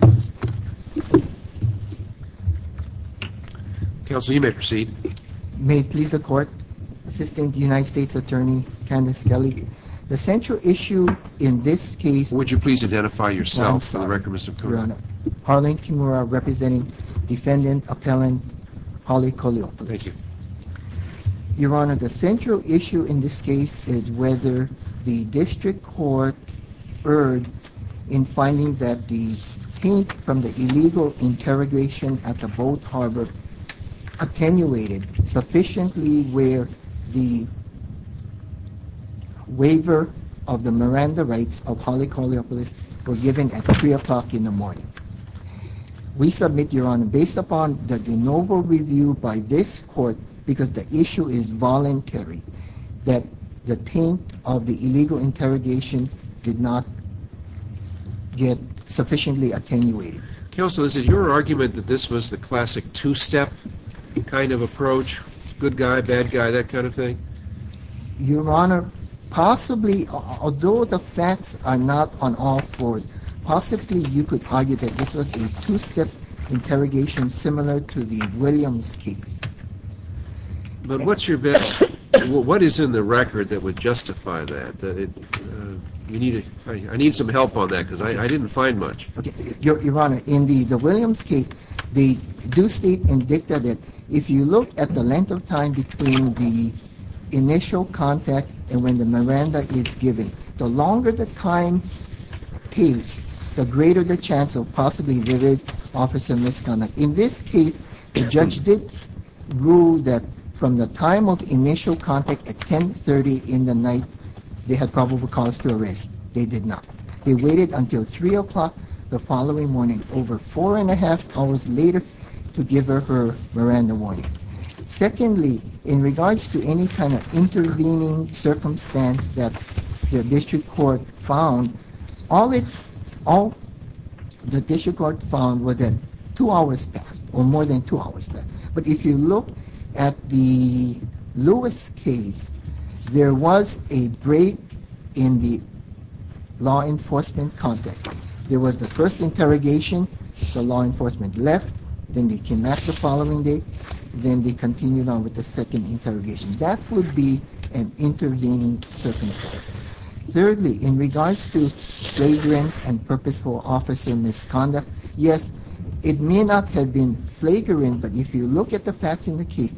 Your Honor, the central issue in this case is whether the district court erred in finding that the taint from the illegal interrogation at the Boat Harbor attenuated sufficiently where the waiver of the Miranda rights of Holly Koliopoulos was given at 3 o'clock in the morning. We submit, Your Honor, based upon the de novo review by this court, because the issue is voluntary, that the taint of the illegal interrogation did not get sufficiently attenuated. Counsel, is it your argument that this was the classic two-step kind of approach? Good guy, bad guy, that kind of thing? Your Honor, possibly, although the facts are not on all fours, possibly you could argue that this was a two-step interrogation similar to the Williams case. But what is in the record that would justify that? I need some help on that because I didn't find much. Your Honor, in the Williams case, the due state indicted that if you look at the length of time between the initial contact and when the Miranda is given, the longer the time case, the greater the chance of possibly there is officer misconduct. In this case, the judge did rule that from the time of initial contact at 10.30 in the night, they had probable cause to arrest. They did not. They waited until 3 o'clock the following morning, over four and a half hours later, to give her her Miranda warning. Secondly, in regards to any kind of intervening circumstance that the district court found, all the district court found was that two hours passed, or more than two hours passed. But if you look at the Lewis case, there was a break in the law enforcement contact. There was the first interrogation, the law enforcement left, then they came back the following day, then they continued on with the second interrogation. That would be an intervening circumstance. Thirdly, in regards to flagrant and purposeful officer misconduct, yes, it may not have been flagrant, but if you look at the facts in the case,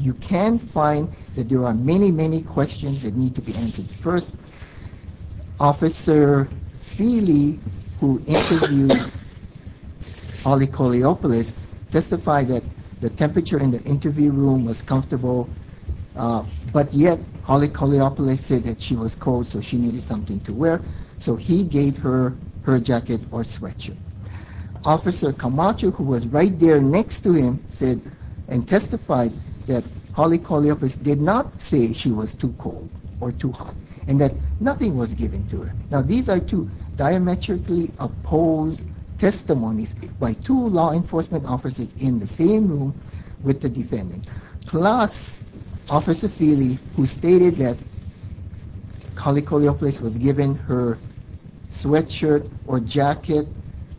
you can find that there are many, many questions that need to be answered. First, Officer Feeley, who interviewed Ollie Koleopolis, testified that the temperature in the interview room was comfortable, but yet Ollie Koleopolis said that she was cold, so she needed something to wear, so he gave her her jacket or sweatshirt. Officer Camacho, who was right there next to him, said and testified that Ollie Koleopolis did not say she was too cold or too hot, and that nothing was given to her. Now, these are two diametrically opposed testimonies by two law enforcement officers in the same room with the defendant. Plus, Officer Feeley, who stated that Ollie Koleopolis was given her sweatshirt or jacket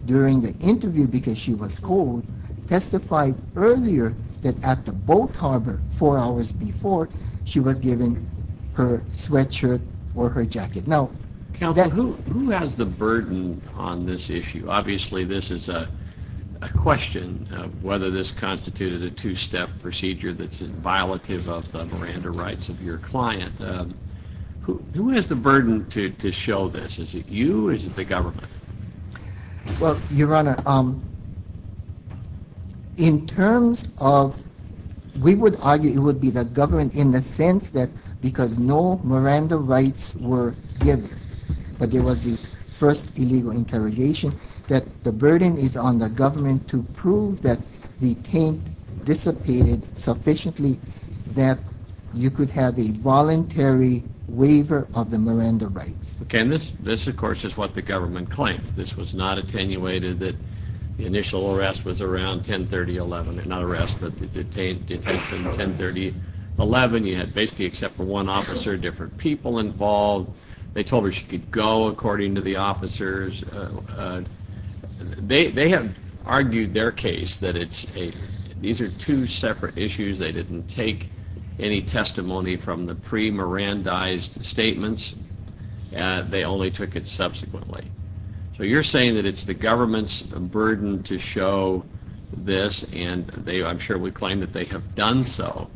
during the interview because she was cold, testified earlier that at the boat harbor four hours before, she was given her sweatshirt or her jacket. Now, who has the burden on this issue? Obviously, this is a question of whether this constituted a two-step procedure that's in violative of the Miranda rights of your client. Who has the burden to show this? Is it you or is it the government? Well, Your Honor, in terms of, we would argue it would be the government in the sense that because no Miranda rights were given, but there was the first illegal interrogation, that the burden is on the government to prove that the taint dissipated sufficiently that you could have a voluntary waiver of the Miranda rights. Okay, and this, of course, is what the government claimed. This was not attenuated that the initial arrest was around 10-30-11, not arrest, but the detention 10-30-11. You had basically except for one officer, different people involved. They told her she could go according to the officers. They have argued their case that it's a, these are two separate issues. They didn't take any testimony from the pre-Mirandaized statements. They only took it subsequently. So you're saying that it's the government's burden to show this and they, I'm sure, would claim that they have done so.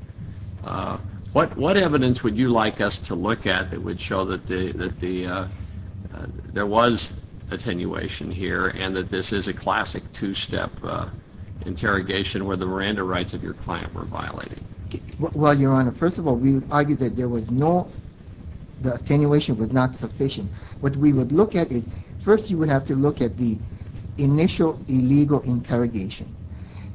What evidence would you like us to look at that would show that there was attenuation here and that this is a classic two-step interrogation where the Miranda rights of your client were violated? Well, Your Honor, first of all, we argue that there was no, the attenuation was not sufficient. What we would look at is, first, you would have to look at the initial illegal interrogation.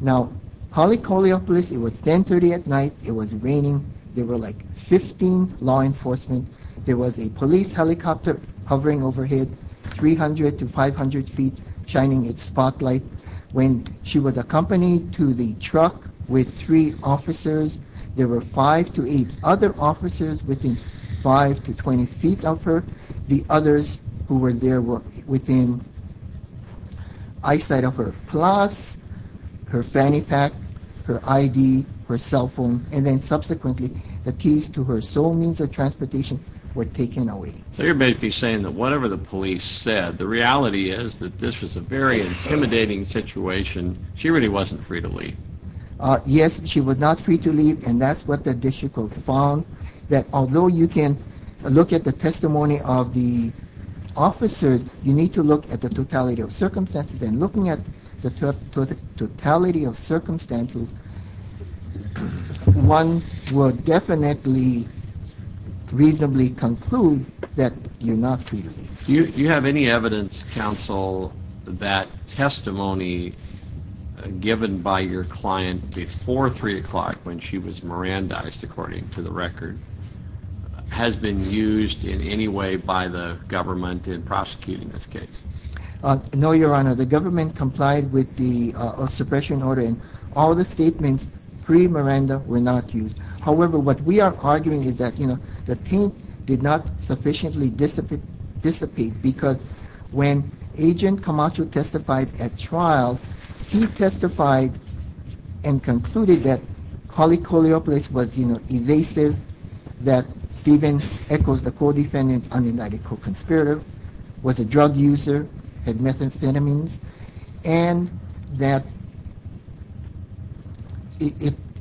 Now, Holly Koliopoulos, it was 10-30 at night. It was raining. There were like 15 law enforcement. There was a police helicopter hovering overhead 300 to 500 feet shining its spotlight. When she was accompanied to the truck with three officers, there were five to eight other officers within 5 to 20 feet of her. The others who were there were within eyesight of her, plus her fanny pack, her ID, her cell phone, and then subsequently the keys to her sole means of transportation were taken away. So you're basically saying that whatever the police said, the reality is that this was a very intimidating situation. She really wasn't free to leave. Yes, she was not free to leave, and that's what the district court found, that although you can look at the testimony of the officers, you need to look at the totality of circumstances, and looking at the totality of circumstances, one would definitely reasonably conclude that you're not free to leave. Do you have any evidence, counsel, that testimony given by your client before three o'clock when she was Mirandized, according to the record, has been used in any way by the government in prosecuting this case? No, your honor. The government complied with the suppression order, and all the statements pre-Miranda were not used. However, what we are arguing is that, you know, the paint did not sufficiently dissipate, because when Agent Camacho testified at trial, he testified and concluded that polycholeopolis was, you know, evasive, that Stephen Eccles, the co-defendant, an unidentified conspirator, was a drug user, had methamphetamines, and that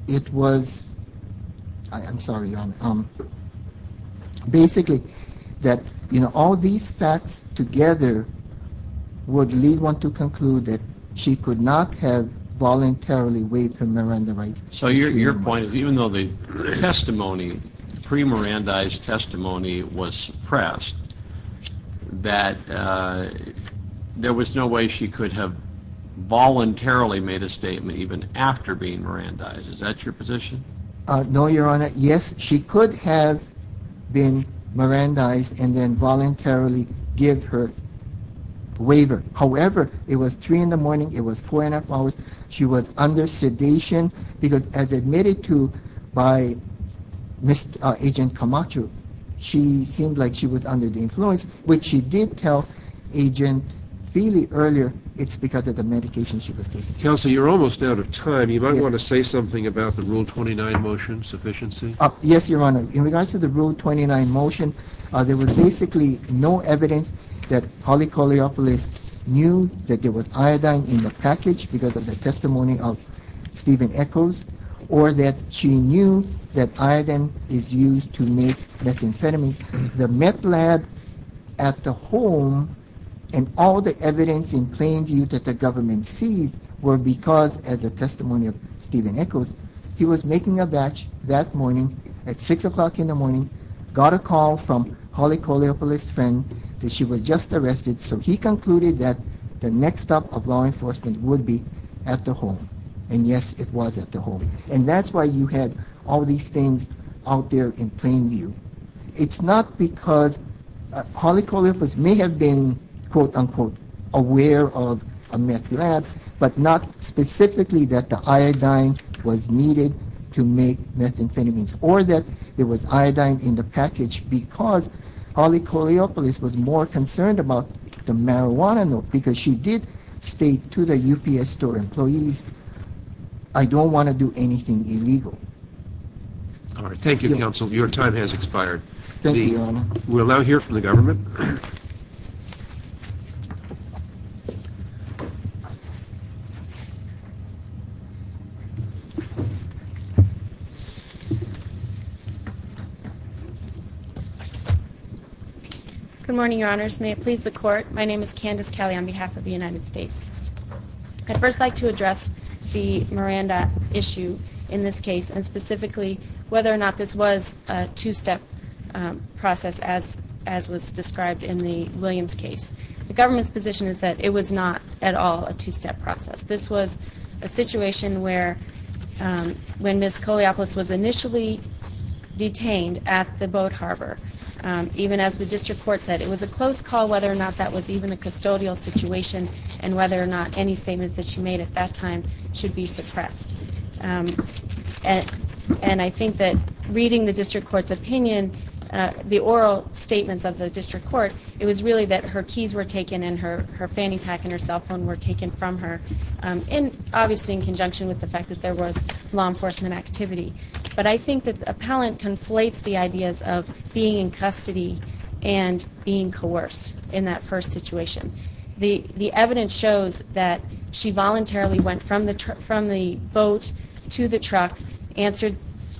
it was, I'm sorry, your honor, basically that, you know, all these facts together would lead one to conclude that she could not have voluntarily waived her Miranda rights. So your point is, even though the testimony, pre-Mirandized testimony was suppressed, that there was no way she could have voluntarily made a statement even after being Mirandized. Is that your position? No, your honor. Yes, she could have been Mirandized and then voluntarily give her waiver. However, it was three in the morning, it was four and a half hours, she was under sedation, because as admitted to by Agent Camacho, she seemed like she was under the influence, which she did tell Agent Feeley earlier, it's because of the medication she was taking. Counselor, you're almost out of time. You might want to say something about the Rule 29 motion, sufficiency? Yes, your honor. In regards to the Rule 29 motion, there was basically no evidence that polycholeopolis knew that there was iodine in the package because of the testimony of Stephen Echols or that she knew that iodine is used to make methamphetamines. The meth lab at the home and all the evidence in plain view that the government sees were because as a testimony of Stephen Echols, he was making a batch that morning at six o'clock in the morning, got a call from polycholeopolis' friend that she was just arrested, so he concluded that the next stop of law enforcement would be at the home, and yes, it was at the home, and that's why you had all these things out there in plain view. It's not because polycholeopolis may have been quote-unquote aware of a meth lab, but not specifically that the iodine was needed to make methamphetamines or that there was iodine in the package because polycholeopolis was more because she did state to the UPS store employees, I don't want to do anything illegal. All right, thank you, counsel. Your time has expired. We'll now hear from the government. Good morning, your honors. May it please the court, my name is Candace Kelly on behalf of the United States. I'd first like to address the Miranda issue in this case and specifically whether or not this was a two-step process as was described in the Williams case. The government's position is that it was not at all a two-step process. This was a situation where when Ms. Coleopolis was initially detained at the boat harbor, even as the district court said, it was a close call whether or not that was even a custodial situation and whether or not any and I think that reading the district court's opinion, the oral statements of the district court, it was really that her keys were taken and her fanny pack and her cell phone were taken from her and obviously in conjunction with the fact that there was law enforcement activity. But I think that the appellant conflates the ideas of being in custody and being coerced in that first boat to the truck answered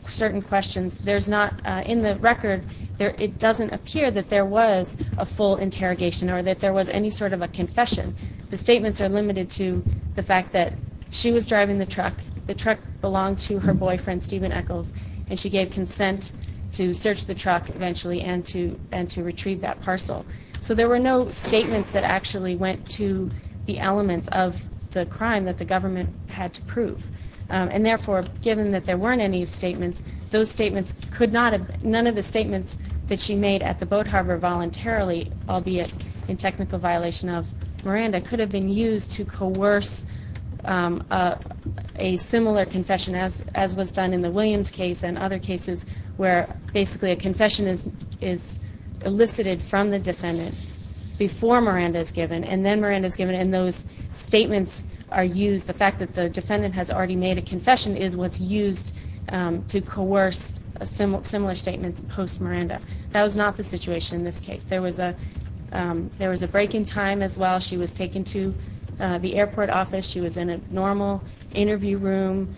certain questions. In the record, it doesn't appear that there was a full interrogation or that there was any sort of a confession. The statements are limited to the fact that she was driving the truck. The truck belonged to her boyfriend, Stephen Echols, and she gave consent to search the truck eventually and to retrieve that parcel. So there were no statements that actually went to the elements of the crime that the government had to prove. And therefore, given that there weren't any statements, those statements could not have, none of the statements that she made at the boat harbor voluntarily, albeit in technical violation of Miranda, could have been used to coerce a similar confession as was done in the Williams case and other cases where basically a confession is elicited from the defendant before Miranda is given. And then Miranda is given and those statements are used. The fact that the defendant has already made a confession is what's used to coerce a similar statement post-Miranda. That was not the situation in this case. There was a break in time as well. She was taken to the airport office. She was in a normal interview room.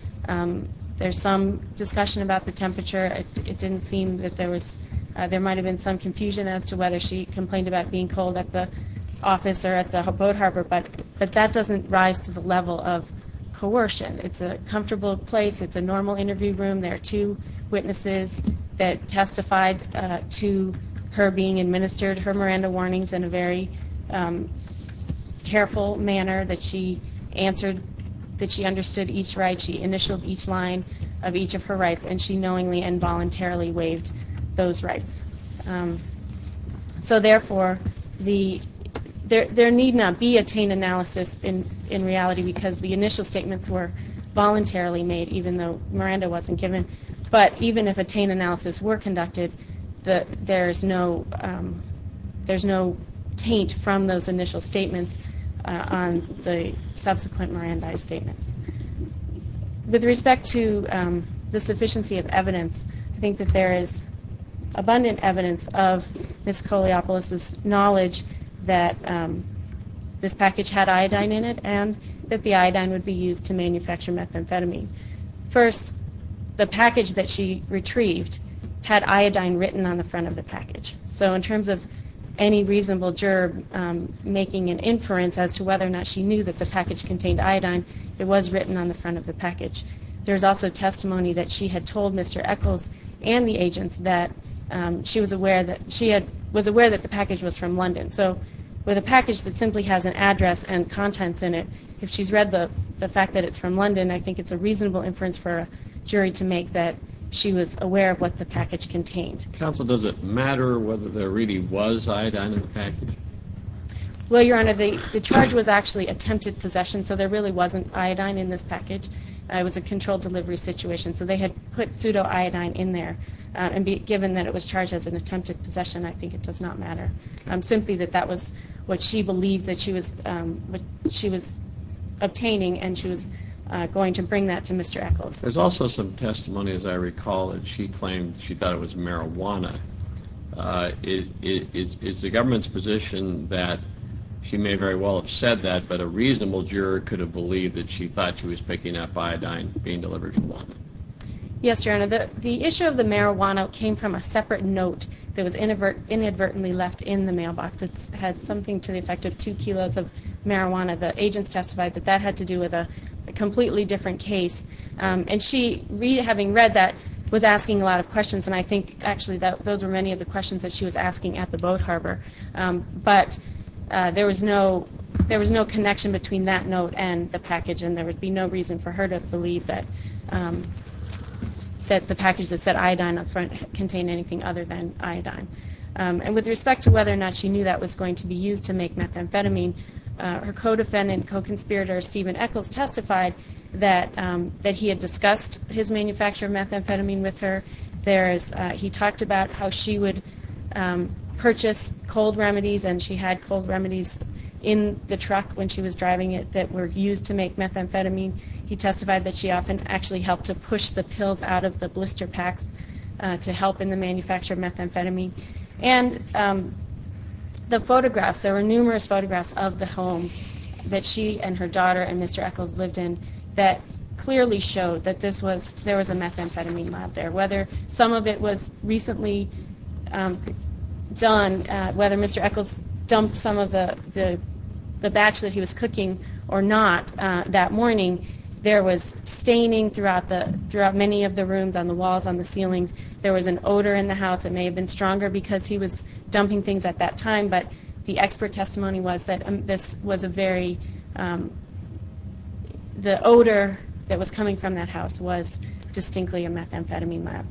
There's some discussion about the temperature. It didn't seem that there was, there might have been some confusion as to whether she complained about being cold at the office or at the boat harbor, but that doesn't rise to the level of coercion. It's a comfortable place. It's a normal interview room. There are two witnesses that testified to her being administered her Miranda warnings in a very careful manner that she answered, that she understood each right. She initialed each line of each of her rights and she knowingly and voluntarily waived those rights. So therefore, there need not be a taint analysis in reality because the initial statements were voluntarily made even though Miranda wasn't given. But even if a taint analysis were conducted, there's no taint from those initial statements on the subsequent Miranda statements. With respect to the sufficiency of evidence, I think that there is abundant evidence of Ms. Coleopolis' knowledge that this package had iodine in it and that the iodine would be used to manufacture methamphetamine. First, the package that she retrieved had iodine written on the front of the package. So in terms of any reasonable gerb making an inference as to whether or not she knew the package contained iodine, it was written on the front of the package. There's also testimony that she had told Mr. Eccles and the agents that she was aware that the package was from London. So with a package that simply has an address and contents in it, if she's read the fact that it's from London, I think it's a reasonable inference for a jury to make that she was aware of what the package contained. Counsel, does it matter whether there really was iodine in the package? Well, Your Honor, the charge was actually attempted possession. So there really wasn't iodine in this package. It was a controlled delivery situation. So they had put pseudo-iodine in there. And given that it was charged as an attempted possession, I think it does not matter. Simply that that was what she believed that she was obtaining and she was going to bring that to Mr. Eccles. There's also some testimony, as I recall, that she claimed she thought it was marijuana. Is the government's position that she may very well have said that, but a reasonable juror could have believed that she thought she was picking up iodine being delivered from London? Yes, Your Honor. The issue of the marijuana came from a separate note that was inadvertently left in the mailbox. It had something to the effect of two kilos of marijuana. The agents testified that that had to do with a completely different case. And she, having read that, was asking a lot of questions. And I think, actually, those were many of the questions that she was asking at the boat harbor. But there was no connection between that note and the package. And there would be no reason for her to believe that the package that said iodine up front contained anything other than iodine. And with respect to whether or not she knew that was going to be used to make methamphetamine, her co-defendant, co-conspirator Stephen Echols, testified that he had discussed his manufacture of methamphetamine with her. He talked about how she would purchase cold remedies, and she had cold remedies in the truck when she was driving it that were used to make methamphetamine. He testified that she often actually helped to push the pills out of the blister packs to help in the manufacture of methamphetamine. And the photographs, there were numerous photographs of the home that she and her and Mr. Echols lived in that clearly showed that there was a methamphetamine lab there. Whether some of it was recently done, whether Mr. Echols dumped some of the batch that he was cooking or not that morning, there was staining throughout many of the rooms on the walls, on the ceilings. There was an odor in the house. It may have been stronger because he was dumping things at that time, but the expert testimony was that this was a very, the odor that was coming from that house was distinctly a methamphetamine lab.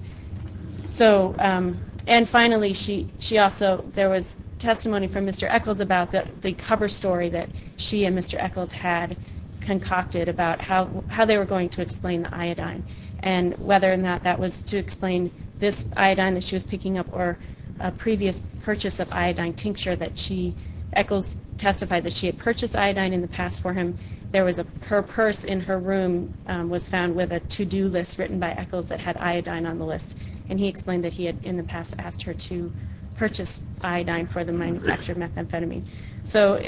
And finally, she also, there was testimony from Mr. Echols about the cover story that she and Mr. Echols had concocted about how they were going to explain the iodine, and whether or not that was to explain this iodine that she was picking up or a previous purchase of iodine tincture that she, Echols testified that she had purchased iodine in the past for him. There was a, her purse in her room was found with a to-do list written by Echols that had iodine on the list, and he explained that he had in the past asked her to purchase iodine for the manufacture of methamphetamine. So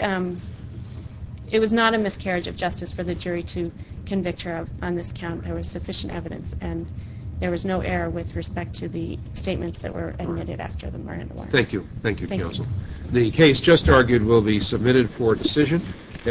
it was not a miscarriage of justice for the jury to convict her on this count. There was sufficient evidence, and there was no error with respect to the statements that were admitted after the murder. Thank you. Thank you, counsel. The case just argued will be submitted for decision.